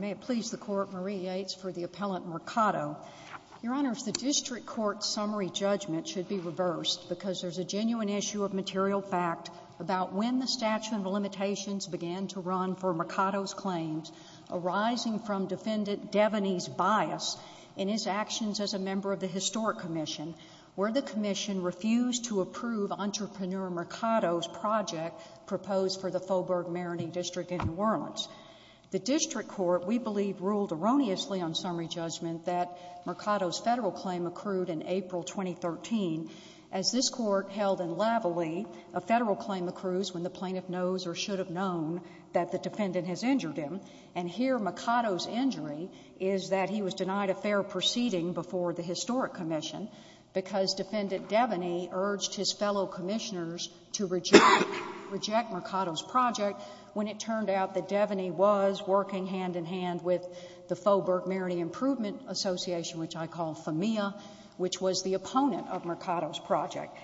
May it please the Court, Marie Yates for the appellant Mercato. Your Honor, if the District Court's summary judgment should be reversed because there is a genuine issue of material fact about when the statute of limitations began to run for Mercato's claims, arising from Defendant Deveney's bias in his actions as a member of the Historic Commission, where the Commission refused to approve Entrepreneur Mercato's project proposed for the Faubourg-Maroney District in New Orleans. The District Court, we believe, ruled erroneously on summary judgment that Mercato's Federal Claim accrued in April 2013, as this Court held in Lavalie, a Federal Claim accrues when the plaintiff knows or should have known that the defendant has injured him. And here Mercato's injury is that he was denied a fair proceeding before the Historic Commission because Defendant Deveney urged his fellow commissioners to reject Mercato's project when it turned out that Deveney was working hand-in-hand with the Faubourg-Maroney Improvement Association, which I call FAMIA, which was the opponent of Mercato's project.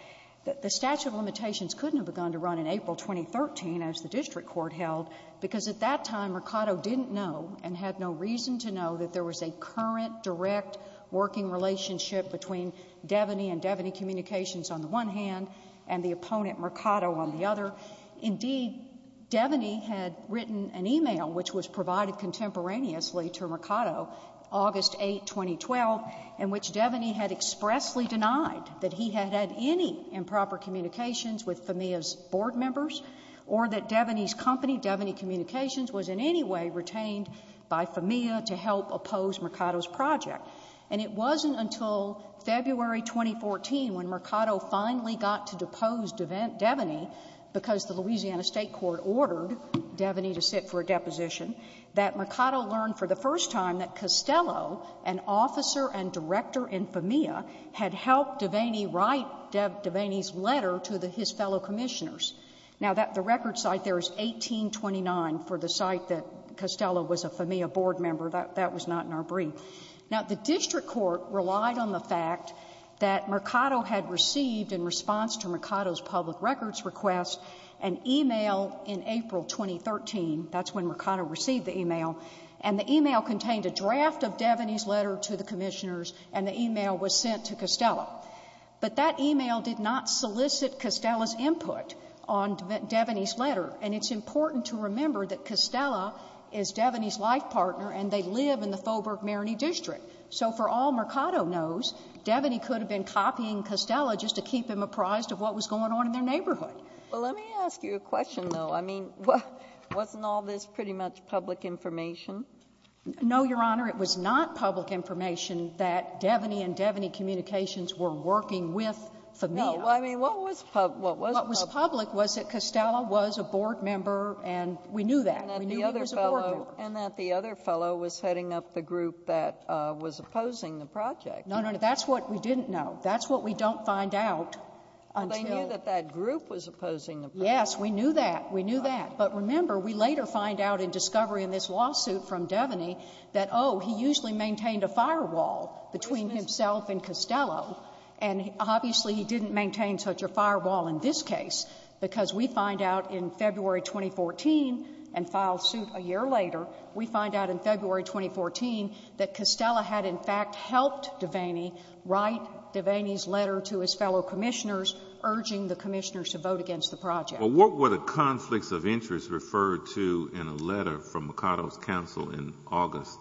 The statute of limitations couldn't have begun to run in April 2013, as the District Court held, because at that time Mercato didn't know and had no reason to know that there was a current, direct working relationship between Deveney and Deveney Communications on the one hand and the opponent Mercato on the other. Indeed, Deveney had written an email which was provided contemporaneously to Mercato August 8, 2012, in which Deveney had expressly denied that he had had any improper communications with FAMIA's board members or that Deveney's company, Deveney Communications, was in any way retained by FAMIA to help oppose Mercato's project. And it wasn't until February 2014, when Mercato finally got to depose Deveney, because the Louisiana State Court ordered Deveney to sit for a deposition, that Mercato learned for the first time that Costello, an officer and director in FAMIA, had helped Deveney write Deveney's letter to his fellow commissioners. Now the record site there is 1829 for the site that Costello was a FAMIA board member. That was not in our brief. Now the district court relied on the fact that Mercato had received in response to Mercato's public records request an email in April 2013, that's when Mercato received the email, and the email contained a draft of Deveney's letter to the commissioners and the email was sent to Costello. But that email did not solicit Costello's input on Deveney's letter. And it's important to remember that Costello is Deveney's life partner and they live in the Faubourg-Mariney district. So for all Mercato knows, Deveney could have been copying Costello just to keep him apprised of what was going on in their neighborhood. Well, let me ask you a question, though. I mean, wasn't all this pretty much public information? No, Your Honor. It was not public information that Deveney and Deveney Communications were working with FAMIA. No. I mean, what was public? What was public was that Costello was a board member and we knew that. We knew he was a board member. And that the other fellow was heading up the group that was opposing the project. No, no, no. That's what we didn't know. That's what we don't find out until — Well, they knew that that group was opposing the project. Yes, we knew that. We knew that. But remember, we later find out in discovery in this lawsuit from Deveney that, oh, he usually maintained a firewall between himself and Costello, and obviously he didn't maintain such a firewall in this case, because we find out in February 2014 and file suit a year later, we find out in February 2014 that Costello had, in fact, helped Deveney write Deveney's letter to his fellow commissioners urging the commissioners to vote against the project. Well, what were the conflicts of interest referred to in a letter from Makato's counsel in August?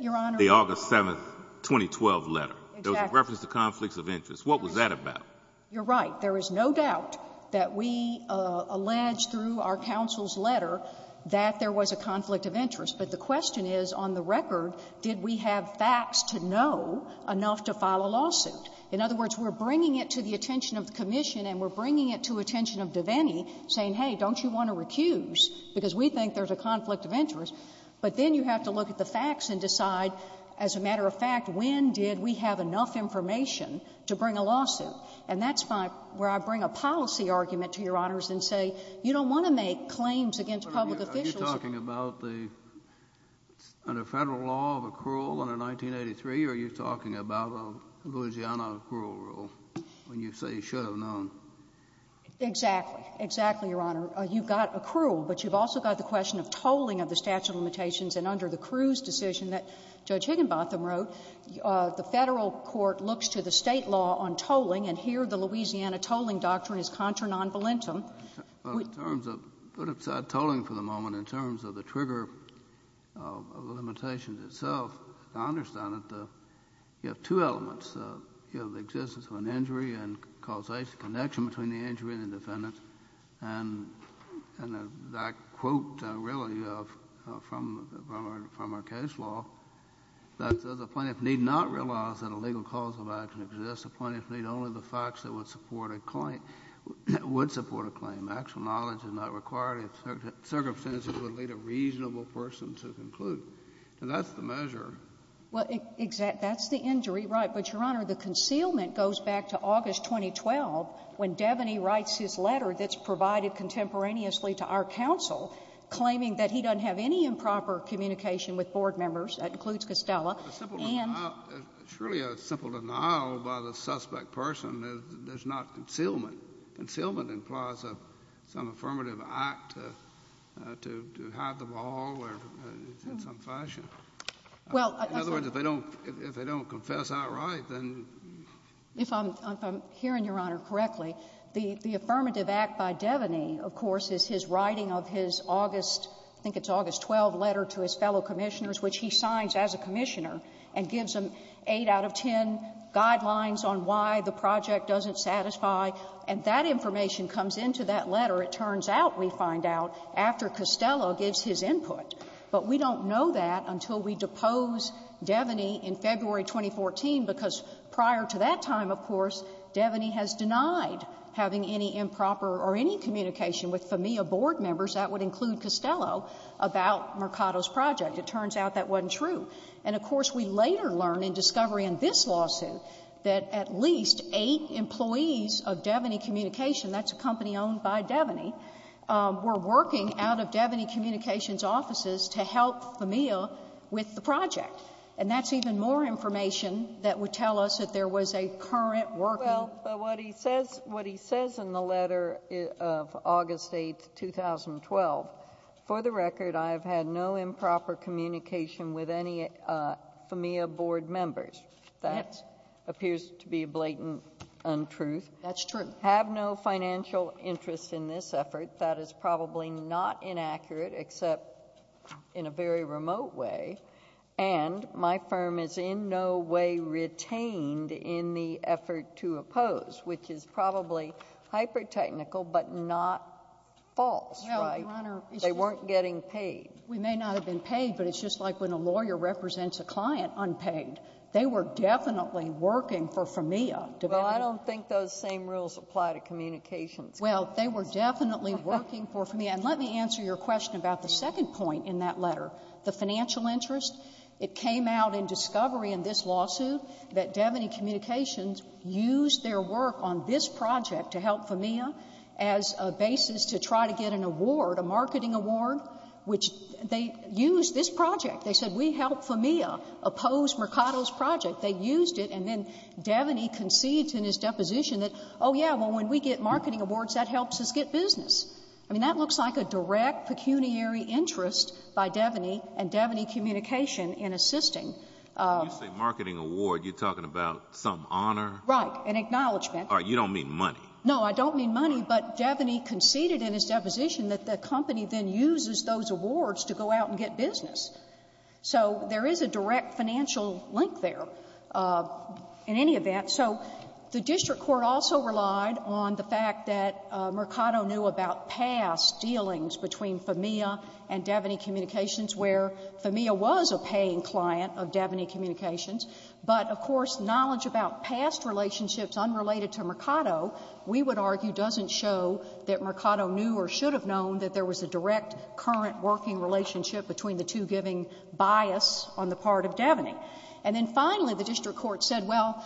Your Honor — The August 7, 2012 letter. Exactly. It was in reference to conflicts of interest. What was that about? You're right. There is no doubt that we alleged through our counsel's letter that there was a conflict of interest. But the question is, on the record, did we have facts to know enough to file a lawsuit? In other words, we're bringing it to the attention of the commission and we're bringing it to attention of Deveney saying, hey, don't you want to recuse, because we think there's a conflict of interest, but then you have to look at the facts and decide, as a matter And that's my — where I bring a policy argument to Your Honors and say, you don't want to make claims against public officials. But are you talking about the — under Federal law of accrual under 1983, or are you talking about a Louisiana accrual rule, when you say you should have known? Exactly. Exactly, Your Honor. You've got accrual, but you've also got the question of tolling of the statute of limitations. And under the Cruz decision that Judge Higginbotham wrote, the Federal court looks to the State law on tolling, and here the Louisiana tolling doctrine is contra non volentem. Well, in terms of — put aside tolling for the moment. In terms of the trigger of the limitations itself, I understand that you have two elements. You have the existence of an injury and causation, connection between the injury and the defendant. And that quote, really, from our case law, that says a plaintiff need not realize that a legal cause of action exists. A plaintiff need only the facts that would support a claim — would support a claim. Actual knowledge is not required. Circumstances would lead a reasonable person to conclude. And that's the measure. Well, exactly. That's the injury, right. But, Your Honor, the concealment goes back to August 2012, when Devaney writes his letter that's provided contemporaneously to our counsel, claiming that he doesn't have any improper communication with board members. That includes Costello. And — It's simple. It's really a simple denial by the suspect person. There's not concealment. Concealment implies some affirmative act to hide the ball, or in some fashion. Well — In other words, if they don't — if they don't confess outright, then — If I'm hearing, Your Honor, correctly, the affirmative act by Devaney, of course, is his writing of his August — I think it's August 12 letter to his fellow commissioners, which he signs as a commissioner and gives them 8 out of 10 guidelines on why the project doesn't satisfy. And that information comes into that letter, it turns out, we find out, after Costello gives his input. But we don't know that until we depose Devaney in February 2014, because prior to that time, of course, Devaney has denied having any improper or any communication with FAMIA board members, that would include Costello, about Mercado's project. It turns out that wasn't true. And, of course, we later learn in discovery in this lawsuit that at least eight employees of Devaney Communication — that's a company owned by Devaney — were working out of Devaney Communications offices to help FAMIA with the project. And that's even more information that would tell us that there was a current working — Well, but what he says — what he says in the letter of August 8, 2012, for the record, I have had no improper communication with any FAMIA board members. That appears to be a blatant untruth. That's true. I have no financial interest in this effort. That is probably not inaccurate, except in a very remote way. And my firm is in no way retained in the effort to oppose, which is probably hyper-technical, but not false, right? No, Your Honor. They weren't getting paid. We may not have been paid, but it's just like when a lawyer represents a client unpaid. They were definitely working for FAMIA. Well, I don't think those same rules apply to communications companies. Well, they were definitely working for FAMIA. And let me answer your question about the second point in that letter, the financial interest. It came out in discovery in this lawsuit that Devaney Communications used their work on this project to help FAMIA as a basis to try to get an award, a marketing award, which they used this project. They said, we helped FAMIA oppose Mercado's project. They used it. And then Devaney conceded in his deposition that, oh, yeah, well, when we get marketing awards, that helps us get business. I mean, that looks like a direct pecuniary interest by Devaney and Devaney Communications in assisting. When you say marketing award, you're talking about some honor? Right. An acknowledgment. All right. You don't mean money. No, I don't mean money. But Devaney conceded in his deposition that the company then uses those awards to go out and get business. So there is a direct financial link there in any event. So the district court also relied on the fact that Mercado knew about past dealings between FAMIA and Devaney Communications, where FAMIA was a paying client of Devaney And so the fact that there were past relationships unrelated to Mercado, we would argue, doesn't show that Mercado knew or should have known that there was a direct, current working relationship between the two giving bias on the part of Devaney. And then, finally, the district court said, well,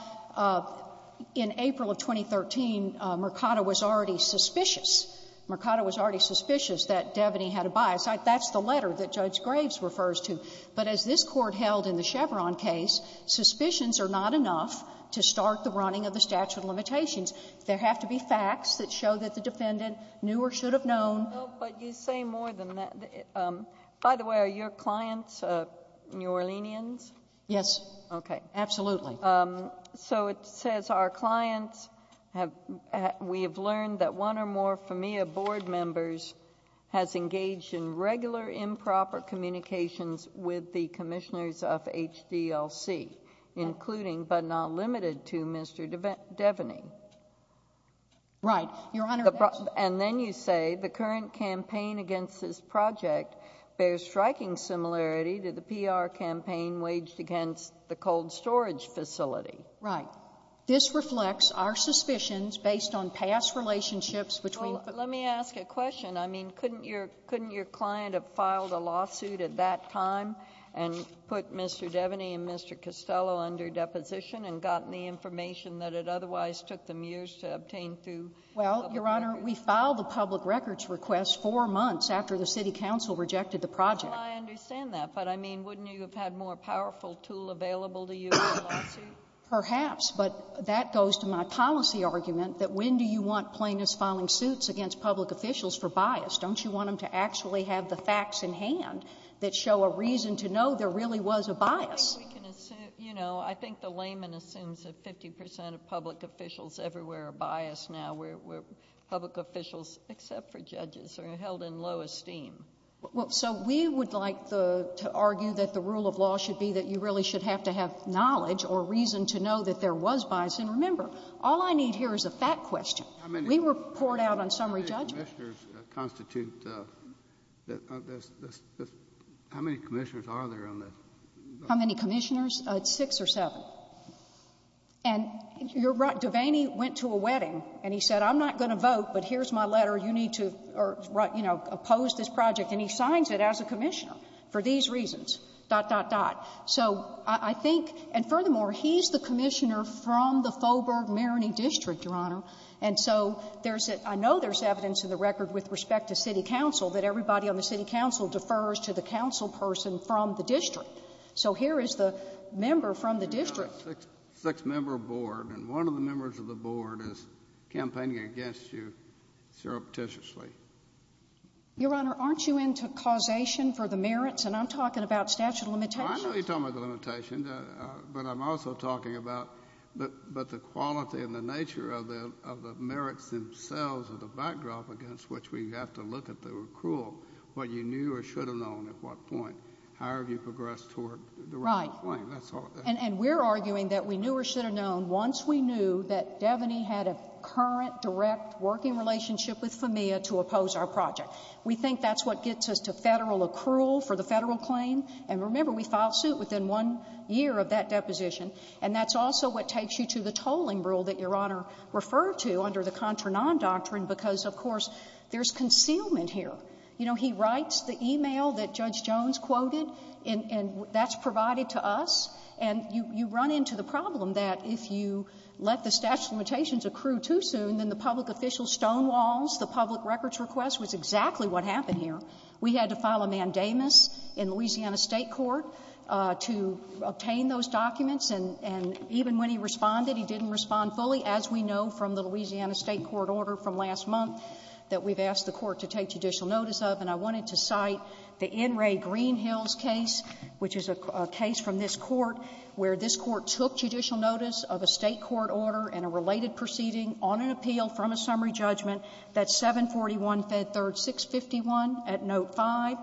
in April of 2013, Mercado was already in the running of the statute of limitations. There have to be facts that show that the defendant knew or should have known. But you say more than that. By the way, are your clients New Orleanians? Yes. Okay. Absolutely. So it says, our clients, we have learned that one or more FAMIA board members has engaged in regular improper communications with the commissioners of HDLC, including but not limited to Mr. Devaney. Right. Your Honor. And then you say, the current campaign against this project bears striking similarity to the PR campaign waged against the cold storage facility. Right. This reflects our suspicions based on past relationships between Well, let me ask a question. I mean, couldn't your client have filed a lawsuit at that time and put Mr. Devaney and Mr. Costello under deposition and gotten the information that it otherwise took them years to obtain through? Well, Your Honor, we filed a public records request four months after the city council rejected the project. Well, I understand that. But, I mean, wouldn't you have had a more powerful tool available to you in a lawsuit? Perhaps. But that goes to my policy argument that when do you want plaintiffs filing suits against public officials for bias? Don't you want them to actually have the facts in hand that show a reason to know there really was a bias? Well, I think we can assume, you know, I think the layman assumes that 50 percent of public officials everywhere are biased now, where public officials, except for judges, are held in low esteem. So we would like to argue that the rule of law should be that you really should have to have knowledge or reason to know that there was bias. And remember, all I need here is a fact question. We report out on summary judgment. How many commissioners are there on that? How many commissioners? Six or seven. And you're right. Devaney went to a wedding, and he said, I'm not going to vote, but here's my letter. You need to, you know, oppose this project. And he signs it as a commissioner for these reasons, dot, dot, dot. So I think, and furthermore, he's the commissioner from the Fulberg-Maroney District, Your Honor. And so there's a, I know there's evidence in the record with respect to city council that everybody on the city council defers to the council person from the district. So here is the member from the district. You've got a six-member board, and one of the members of the board is campaigning against you surreptitiously. Your Honor, aren't you into causation for the merits? And I'm talking about statute of limitations. Well, I know you're talking about the limitations, but I'm also talking about the quality and the nature of the merits themselves and the backdrop against which we have to look at the accrual, what you knew or should have known at what point. How have you progressed toward the right claim? Right. And we're arguing that we knew or should have known once we knew that Devaney had a current, direct working relationship with FEMIA to oppose our project. We think that's what gets us to federal accrual for the federal claim. And remember, we filed suit within one year of that deposition. And that's also what takes you to the tolling rule that Your Honor referred to under the contra-non doctrine because, of course, there's concealment here. You know, he writes the e-mail that Judge Jones quoted, and that's provided to us. And you run into the problem that if you let the statute of limitations accrue too soon, then the public official stonewalls, the public records request was exactly what happened here. We had to file a mandamus in Louisiana State Court to obtain those documents, and even when he responded, he didn't respond fully, as we know from the Louisiana State Court order from last month that we've asked the Court to take judicial notice of, and I wanted to cite the N. Ray Greenhill's case, which is a case from this Court, where this Court took judicial notice of a State court order and a related proceeding on an appeal from a summary judgment that's 741 Fed 3rd 651 at note 5.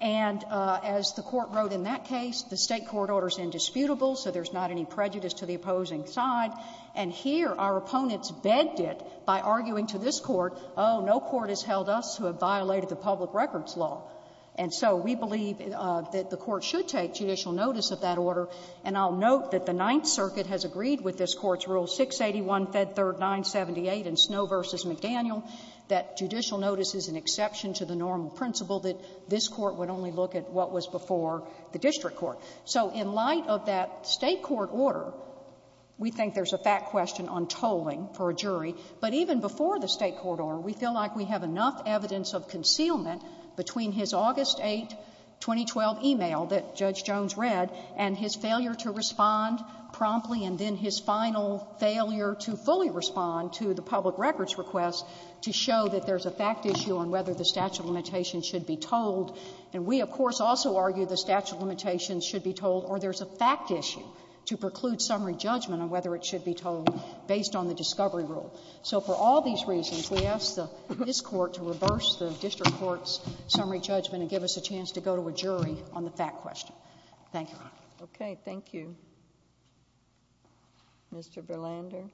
And as the Court wrote in that case, the State court order is indisputable, so there's not any prejudice to the opposing side. And here, our opponents begged it by arguing to this Court, oh, no court has held us who have violated the public records law. And so we believe that the Court should take judicial notice of that order. And I'll note that the Ninth Circuit has agreed with this Court's rule, 681 Fed 3rd 978 in Snow v. McDaniel, that judicial notice is an exception to the normal principle that this Court would only look at what was before the district court. So in light of that State court order, we think there's a fact question on tolling for a jury, but even before the State court order, we feel like we have enough evidence of concealment between his August 8, 2012, e-mail that Judge Jones read and his failure to respond promptly, and then his final failure to fully respond to the public records request to show that there's a fact issue on whether the statute of limitations should be tolled. And we, of course, also argue the statute of limitations should be tolled or there's a fact issue to preclude summary judgment on whether it should be tolled based on the discovery rule. So for all these reasons, we ask this Court to reverse the district court's summary judgment and give us a chance to go to a jury on the fact question. Thank you. Okay. Thank you. Mr. Berlander?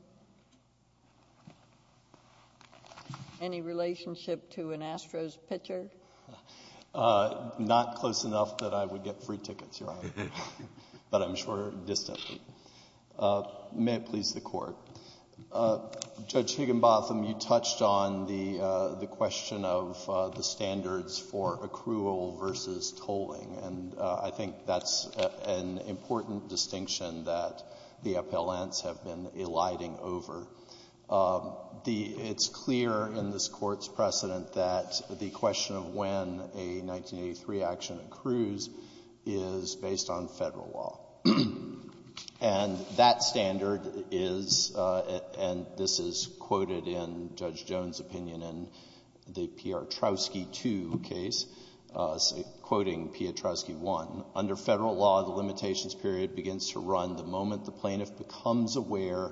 Any relationship to an Astros pitcher? Not close enough that I would get free tickets, Your Honor, but I'm sure distantly. May it please the Court. Judge Higginbotham, you touched on the question of the standards for accrual versus tolling, and I think that's an important distinction that the appellants have been eliding over. It's clear in this Court's precedent that the question of when a 1983 action accrues is based on Federal law. And that standard is, and this is quoted in Judge Jones' opinion in the P.R. Trotsky 2 case, quoting P.R. Trotsky 1, under Federal law, the limitations period begins to run the moment the plaintiff becomes aware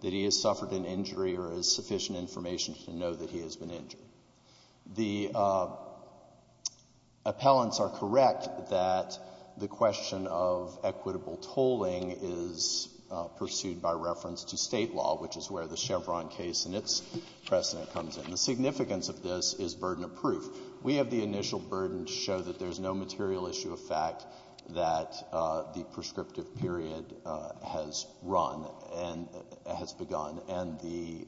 that he has suffered an injury or has sufficient information to know that he has been injured. The appellants are correct that the question of equitable tolling is pursued by reference to State law, which is where the Chevron case and its precedent comes in. And the significance of this is burden of proof. We have the initial burden to show that there's no material issue of fact that the prescriptive period has run and has begun. And the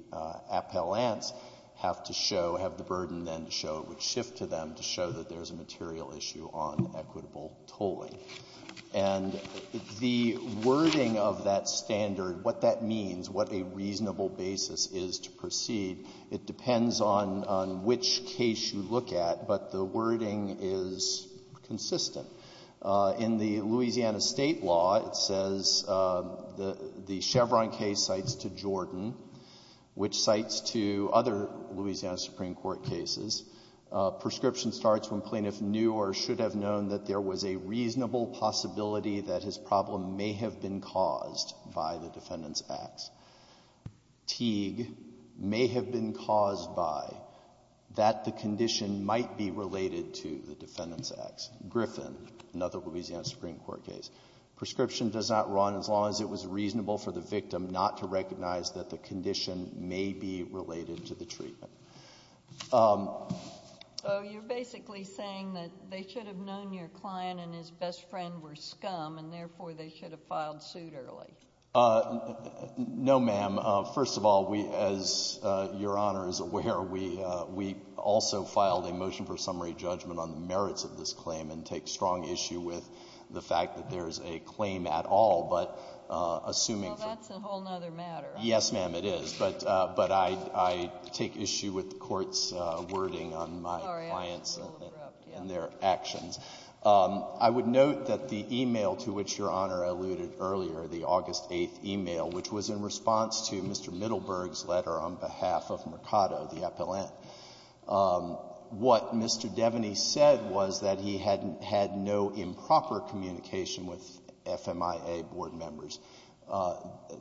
appellants have to show, have the burden then to show it would shift to them to show that there's a material issue on equitable tolling. And the wording of that standard, what that means, what a reasonable basis is to proceed, it depends on which case you look at, but the wording is consistent. In the Louisiana State law, it says the Chevron case cites to Jordan, which cites to other Louisiana Supreme Court cases. Prescription starts when plaintiff knew or should have known that there was a reasonable possibility that his problem may have been caused by the defendant's acts. Teague may have been caused by that the condition might be related to the defendant's acts. Griffin, another Louisiana Supreme Court case. Prescription does not run as long as it was reasonable for the victim not to recognize that the condition may be related to the treatment. So you're basically saying that they should have known your client and his best friend were scum, and therefore they should have filed suit early. No, ma'am. First of all, as Your Honor is aware, we also filed a motion for summary judgment on the merits of this claim and take strong issue with the fact that there is a claim at all. Well, that's a whole other matter. Yes, ma'am, it is. But I take issue with the Court's wording on my clients and their actions. I would note that the e-mail to which Your Honor alluded earlier, the August 8th e-mail, which was in response to Mr. Middleburg's letter on behalf of Mercado, the appellant, what Mr. Devaney said was that he had no improper communication with FMIA board members.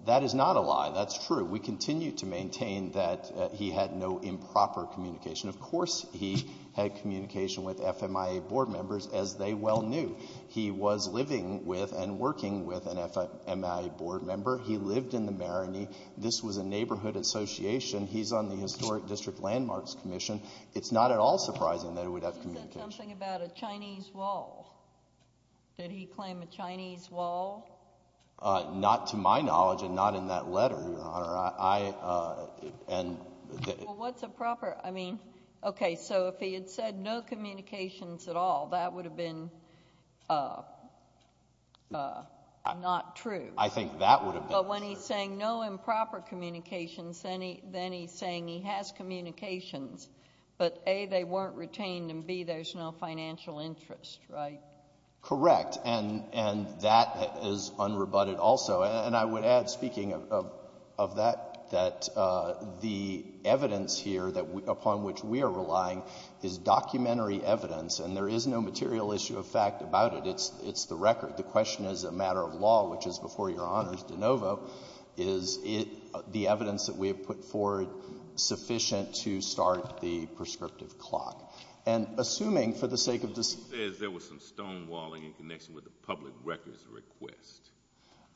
That is not a lie. That's true. We continue to maintain that he had no improper communication. Of course he had communication with FMIA board members, as they well knew. He was living with and working with an FMIA board member. He lived in the marinee. This was a neighborhood association. He's on the Historic District Landmarks Commission. It's not at all surprising that he would have communication. He said something about a Chinese wall. Did he claim a Chinese wall? Not to my knowledge and not in that letter, Your Honor. Well, what's improper? I mean, okay, so if he had said no communications at all, that would have been not true. I think that would have been true. But when he's saying no improper communications, then he's saying he has communications. But, A, they weren't retained, and, B, there's no financial interest, right? Correct. And that is unrebutted also. And I would add, speaking of that, that the evidence here upon which we are relying is documentary evidence, and there is no material issue of fact about it. It's the record. The question is a matter of law, which is, before Your Honor's de novo, is the evidence that we have put forward sufficient to start the prescriptive clock? And assuming for the sake of this— He says there was some stonewalling in connection with the public records request.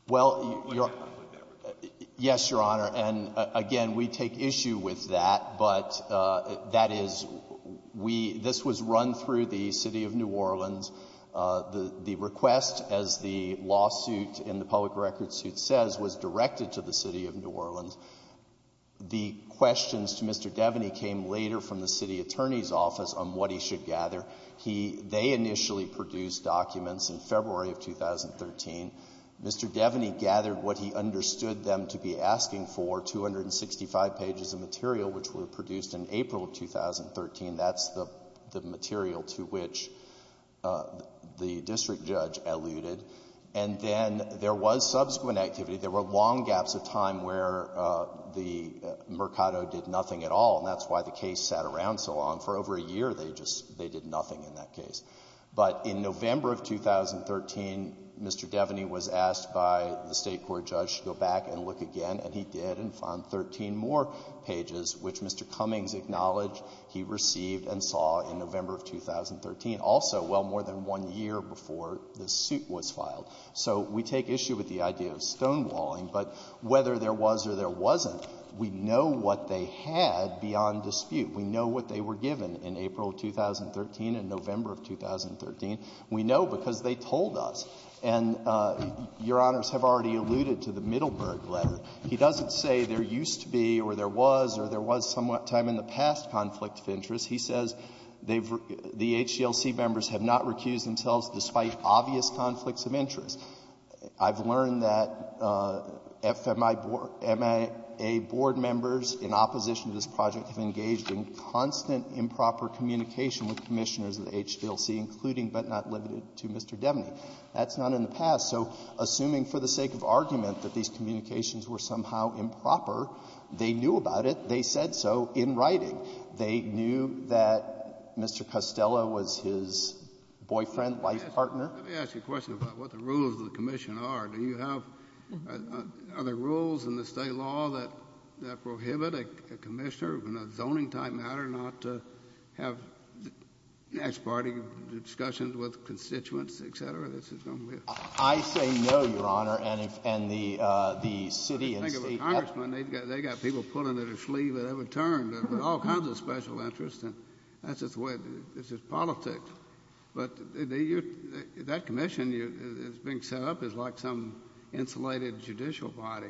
Well, yes, Your Honor. And, again, we take issue with that, but that is we—this was run through the city of New Orleans. The request, as the lawsuit in the public records suit says, was directed to the city of New Orleans. The questions to Mr. Devaney came later from the city attorney's office on what he should gather. They initially produced documents in February of 2013. Mr. Devaney gathered what he understood them to be asking for, 265 pages of material, which were produced in April of 2013. That's the material to which the district judge alluded. And then there was subsequent activity. There were long gaps of time where the Mercado did nothing at all, and that's why the case sat around so long. For over a year, they just—they did nothing in that case. But in November of 2013, Mr. Devaney was asked by the state court judge to go back and look again, and he did and found 13 more pages, which Mr. Cummings acknowledged he received and saw in November of 2013, also well more than one year before this suit was filed. So we take issue with the idea of stonewalling, but whether there was or there wasn't, we know what they had beyond dispute. We know what they were given in April of 2013 and November of 2013. We know because they told us. And Your Honors have already alluded to the Middleburg letter. He doesn't say there used to be or there was or there was some time in the past conflict of interest. He says the HGLC members have not recused themselves despite obvious conflicts of interest. I've learned that FMIA board members, in opposition to this project, have engaged in constant improper communication with Commissioners of the HGLC, including but not limited to Mr. Devaney. That's not in the past. So assuming for the sake of argument that these communications were somehow improper, they knew about it. They said so in writing. They knew that Mr. Costello was his boyfriend, wife, partner. Let me ask you a question about what the rules of the Commission are. Do you have other rules in the state law that prohibit a Commissioner in a zoning type matter not to have next party discussions with constituents, et cetera? I say no, Your Honor, and the city and state. Think of a congressman. They've got people pulling at their sleeve at every turn with all kinds of special interests. That's just the way it is. It's just politics. But that Commission that's being set up is like some insulated judicial body.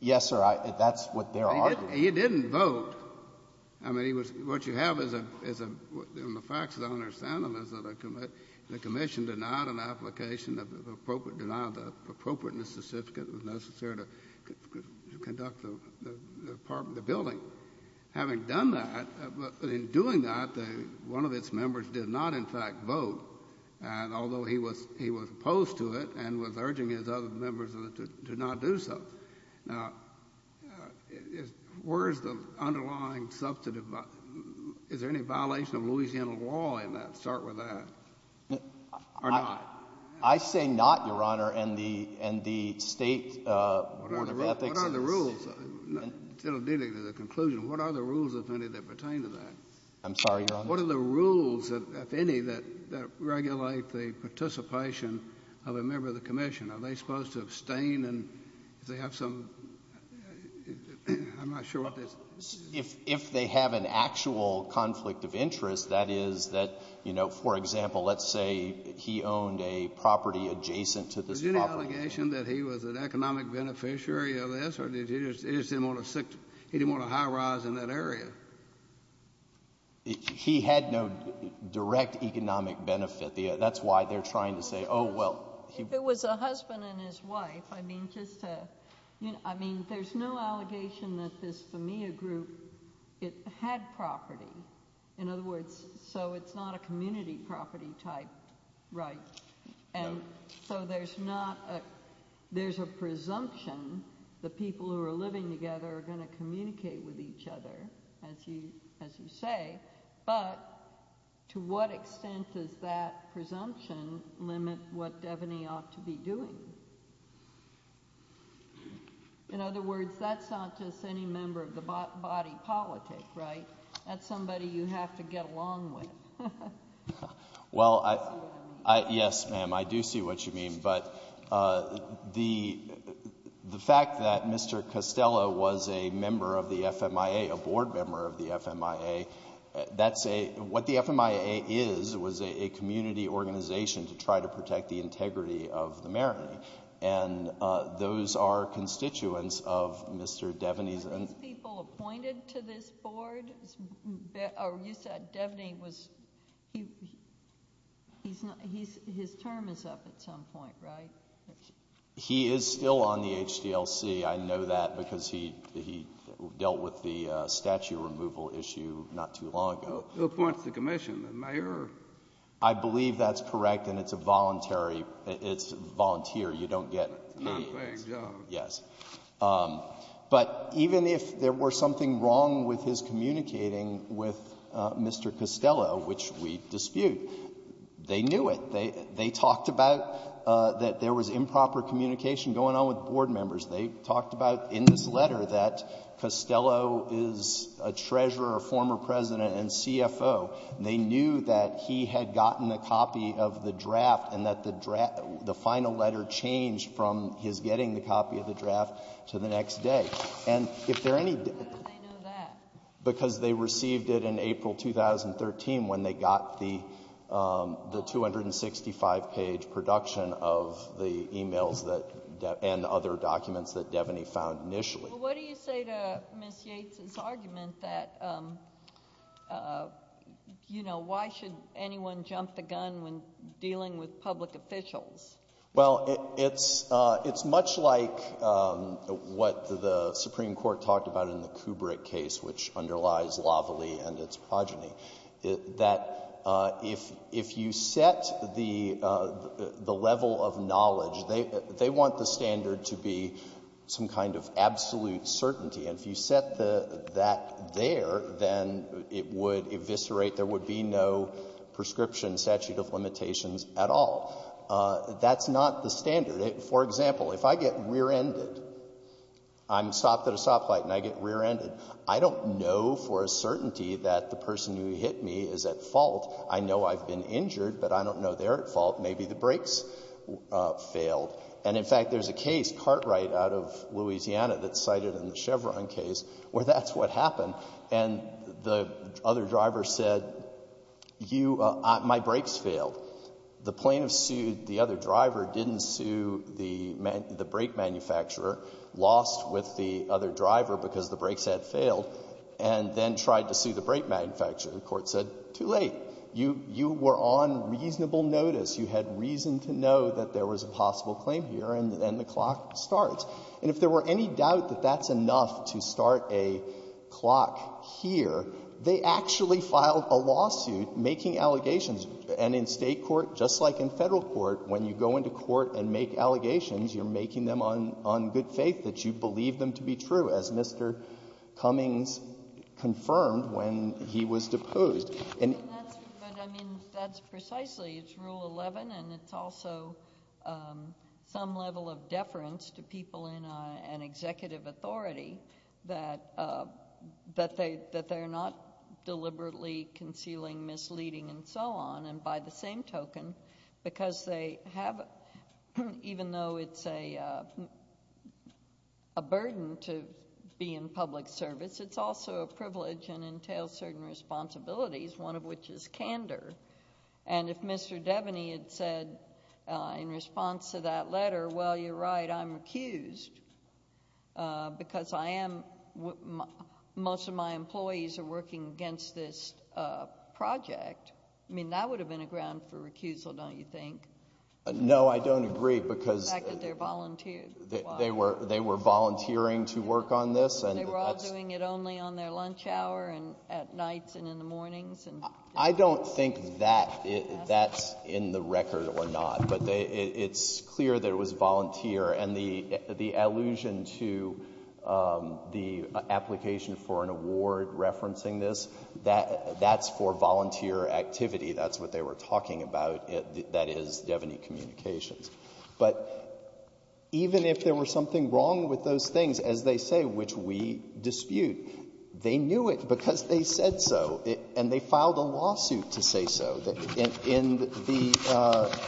Yes, sir. That's what they're arguing. He didn't vote. I mean, what you have is, in the facts that I understand them, is that the Commission denied an application, denied the appropriateness certificate that was necessary to conduct the building. Having done that, in doing that, one of its members did not, in fact, vote, although he was opposed to it and was urging his other members to not do so. Now, where is the underlying substantive? Is there any violation of Louisiana law in that? Start with that. I say not, Your Honor, and the state Board of Ethics. What are the rules? Instead of getting to the conclusion, what are the rules, if any, that pertain to that? I'm sorry, Your Honor? What are the rules, if any, that regulate the participation of a member of the Commission? Are they supposed to abstain if they have some—I'm not sure what this— If they have an actual conflict of interest, that is that, you know, for example, let's say he owned a property adjacent to this property. Was there an allegation that he was an economic beneficiary of this, or he just didn't want to high-rise in that area? He had no direct economic benefit. That's why they're trying to say, oh, well— It was a husband and his wife. I mean, just to—I mean, there's no allegation that this, for me, a group, it had property. In other words, so it's not a community property type right. And so there's not a—there's a presumption the people who are living together are going to communicate with each other, as you say, but to what extent does that presumption limit what Devaney ought to be doing? In other words, that's not just any member of the body politic, right? That's somebody you have to get along with. Well, yes, ma'am, I do see what you mean. But the fact that Mr. Costello was a member of the FMIA, a board member of the FMIA, that's a—what the FMIA is was a community organization to try to protect the integrity of the marity. And those are constituents of Mr. Devaney's— Were those people appointed to this board? You said Devaney was—his term is up at some point, right? He is still on the HDLC. I know that because he dealt with the statue removal issue not too long ago. Who appoints the commission, the mayor? I believe that's correct, and it's a voluntary—it's volunteer. You don't get paid. Yes. But even if there were something wrong with his communicating with Mr. Costello, which we dispute, they knew it. They talked about that there was improper communication going on with board members. They talked about in this letter that Costello is a treasurer, a former president, and CFO. They knew that he had gotten a copy of the draft and that the final letter changed from his getting the copy of the draft to the next day. How did they know that? Because they received it in April 2013 when they got the 265-page production of the emails and other documents that Devaney found initially. Well, what do you say to Ms. Yates's argument that, you know, why should anyone jump the gun when dealing with public officials? Well, it's much like what the Supreme Court talked about in the Kubrick case, which underlies lavalie and its progeny, that if you set the level of knowledge, they want the standard to be some kind of absolute certainty. And if you set that there, then it would eviscerate, there would be no prescription statute of limitations at all. That's not the standard. For example, if I get rear-ended, I'm stopped at a stoplight and I get rear-ended, I don't know for a certainty that the person who hit me is at fault. I know I've been injured, but I don't know they're at fault. Maybe the brakes failed. And, in fact, there's a case, Cartwright out of Louisiana, that's cited in the Chevron case where that's what happened. And the other driver said, you — my brakes failed. The plaintiff sued the other driver, didn't sue the brake manufacturer, lost with the other driver because the brakes had failed, and then tried to sue the brake manufacturer. The court said, too late. You were on reasonable notice. You had reason to know that there was a possible claim here, and the clock starts. And if there were any doubt that that's enough to start a clock here, they actually filed a lawsuit making allegations. And in State court, just like in Federal court, when you go into court and make allegations, you're making them on good faith that you believe them to be true, as Mr. Cummings confirmed when he was deposed. But, I mean, that's precisely — it's Rule 11, and it's also some level of deference to people in an executive authority that they're not deliberately concealing, misleading, and so on. And by the same token, because they have — even though it's a burden to be in public service, it's also a privilege and entails certain responsibilities, one of which is candor. And if Mr. Devaney had said in response to that letter, well, you're right, I'm recused, because I am — most of my employees are working against this project, I mean, that would have been a ground for recusal, don't you think? No, I don't agree, because — The fact that they're volunteers. They were volunteering to work on this, and that's — They were all doing it only on their lunch hour and at night and in the mornings. I don't think that's in the record or not, but it's clear that it was volunteer. And the allusion to the application for an award referencing this, that's for volunteer activity. That's what they were talking about. That is Devaney Communications. But even if there were something wrong with those things, as they say, which we dispute, they knew it because they said so, and they filed a lawsuit to say so. In the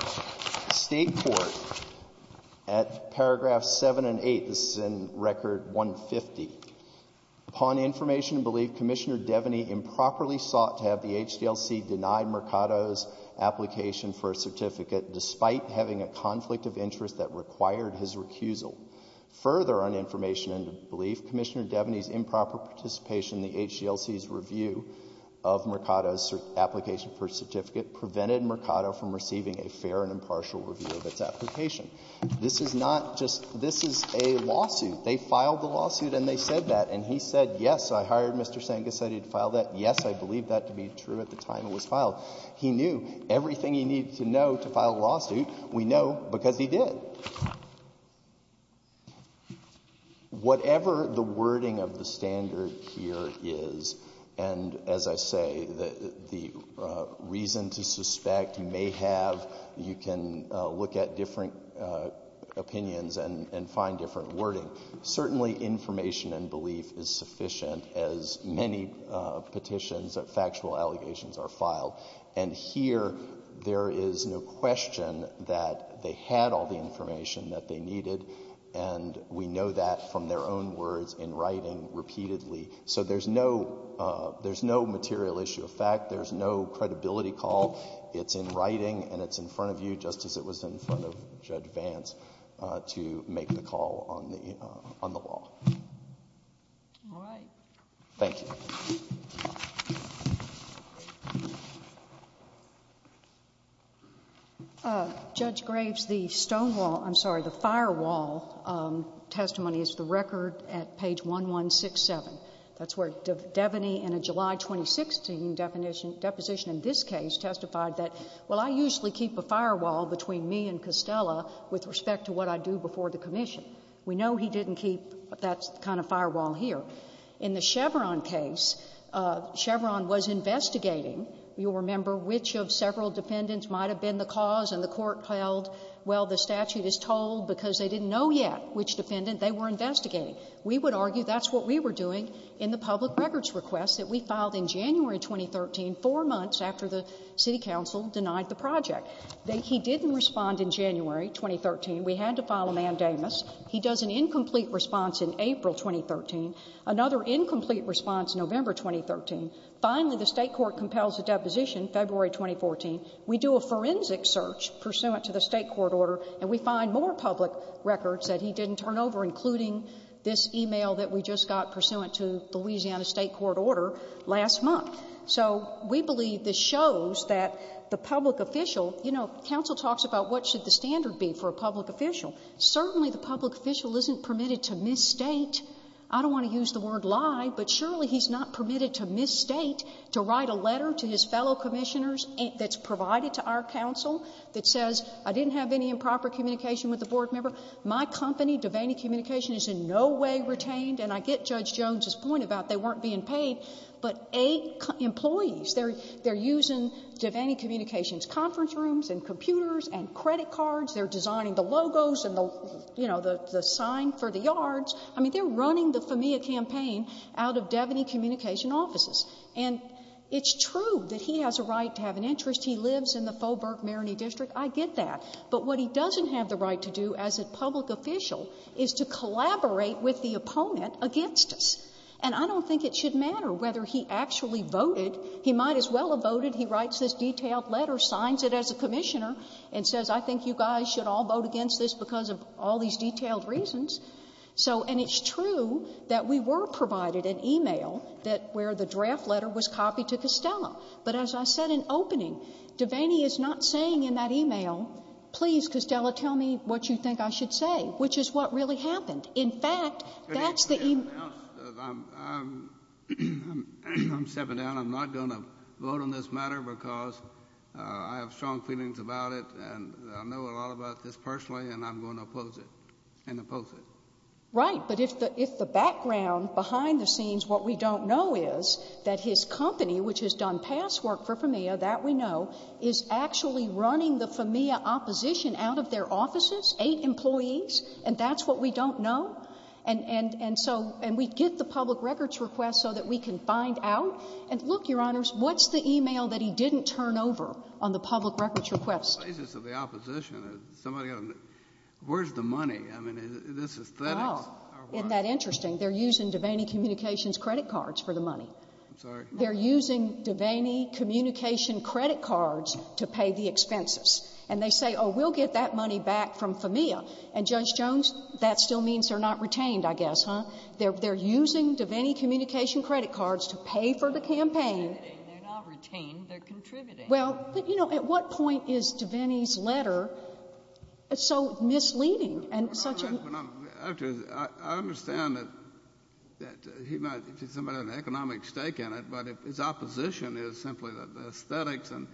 State Court, at paragraphs 7 and 8, this is in Record 150, upon information and belief, Commissioner Devaney improperly sought to have the HDLC deny Mercado's application for a certificate despite having a conflict of interest that required his recusal. Further, on information and belief, Commissioner Devaney's improper participation in the HDLC's review of Mercado's application for a certificate prevented Mercado from receiving a fair and impartial review of its application. This is not just — this is a lawsuit. They filed the lawsuit, and they said that. And he said, yes, I hired Mr. Senga, said he'd file that. Yes, I believe that to be true at the time it was filed. We know because he did. Whatever the wording of the standard here is, and as I say, the reason to suspect may have — you can look at different opinions and find different wording. Certainly information and belief is sufficient, as many petitions of factual allegations are filed. And here there is no question that they had all the information that they needed, and we know that from their own words in writing repeatedly. So there's no material issue of fact. There's no credibility call. It's in writing, and it's in front of you, just as it was in front of Judge Vance, to make the call on the law. All right. Thank you. Judge Graves, the stonewall — I'm sorry, the firewall testimony is the record at page 1167. That's where Devaney, in a July 2016 deposition in this case, testified that, well, I usually keep a firewall between me and Costello with respect to what I do before the commission. We know he didn't keep that kind of firewall here. In the Chevron case, Chevron was investigating. You'll remember which of several defendants might have been the cause, and the court held, well, the statute is told because they didn't know yet which defendant they were investigating. We would argue that's what we were doing in the public records request that we filed in January 2013, four months after the city council denied the project. He didn't respond in January 2013. We had to file a mandamus. He does an incomplete response in April 2013, another incomplete response in November 2013. Finally, the state court compels a deposition, February 2014. We do a forensic search pursuant to the state court order, and we find more public records that he didn't turn over, including this e-mail that we just got pursuant to the Louisiana state court order last month. So we believe this shows that the public official — you know, counsel talks about what should the standard be for a public official. Certainly the public official isn't permitted to misstate. I don't want to use the word lie, but surely he's not permitted to misstate, to write a letter to his fellow commissioners that's provided to our counsel that says, I didn't have any improper communication with the board member. My company, Devaney Communications, is in no way retained, and I get Judge Jones's point about they weren't being paid, but eight employees, they're using Devaney Communications' conference rooms and computers and credit cards. They're designing the logos and the, you know, the sign for the yards. I mean, they're running the FAMIA campaign out of Devaney Communications' offices. And it's true that he has a right to have an interest. He lives in the Faubourg-Mariney District. I get that. But what he doesn't have the right to do as a public official is to collaborate with the opponent against us. And I don't think it should matter whether he actually voted. He might as well have voted. He writes this detailed letter, signs it as a commissioner, and says, I think you guys should all vote against this because of all these detailed reasons. So, and it's true that we were provided an e-mail that where the draft letter was copied to Costello. But as I said in opening, Devaney is not saying in that e-mail, please, Costello, tell me what you think I should say, which is what really happened. In fact, that's the e-mail. I'm stepping down. I'm not going to vote on this matter because I have strong feelings about it, and I know a lot about this personally, and I'm going to oppose it and oppose it. Right, but if the background behind the scenes, what we don't know is that his company, which has done past work for FAMIA, that we know, is actually running the FAMIA opposition out of their offices, eight employees, and that's what we don't know? And so, and we get the public records request so that we can find out. And look, Your Honors, what's the e-mail that he didn't turn over on the public records request? Places of the opposition. Where's the money? Isn't that interesting? They're using Devaney Communications credit cards for the money. They're using Devaney Communications credit cards to pay the expenses. And they say, oh, we'll get that money back from FAMIA. And Judge Jones, that still means they're not retained, I guess, huh? They're using Devaney Communications credit cards to pay for the campaign. They're not retained. They're contributing. Well, you know, at what point is Devaney's letter so misleading and such a— I understand that he might have an economic stake in it, but his opposition is simply that the aesthetics and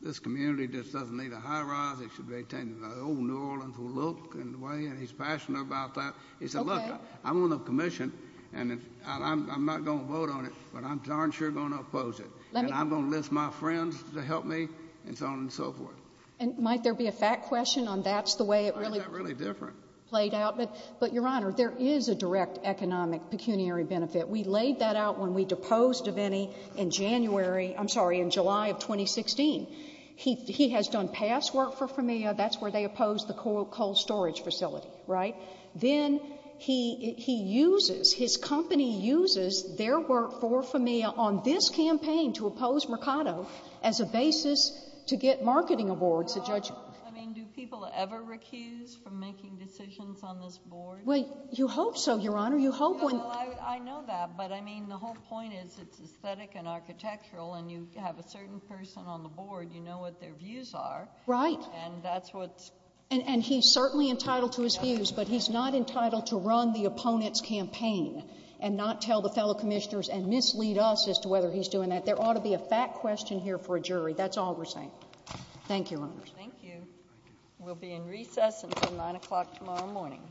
this community just doesn't need a high-rise. It should be retained. The whole New Orleans will look in the way, and he's passionate about that. He said, look, I'm on the commission, and I'm not going to vote on it, but I'm darn sure going to oppose it. And I'm going to list my friends to help me, and so on and so forth. And might there be a fact question on that's the way it really played out? But, Your Honor, there is a direct economic pecuniary benefit. We laid that out when we deposed Devaney in January—I'm sorry, in July of 2016. He has done past work for Famia. That's where they opposed the coal storage facility, right? Then he uses—his company uses their work for Famia on this campaign to oppose Mercado as a basis to get marketing awards to judges. I mean, do people ever recuse from making decisions on this board? Well, you hope so, Your Honor. You hope when— Well, I know that, but, I mean, the whole point is it's aesthetic and architectural, and you have a certain person on the board. You know what their views are. Right. And that's what's— And he's certainly entitled to his views, but he's not entitled to run the opponent's campaign and not tell the fellow commissioners and mislead us as to whether he's doing that. There ought to be a fact question here for a jury. That's all we're saying. Thank you, Your Honor. Thank you. We'll be in recess until 9 o'clock tomorrow morning. Thank you.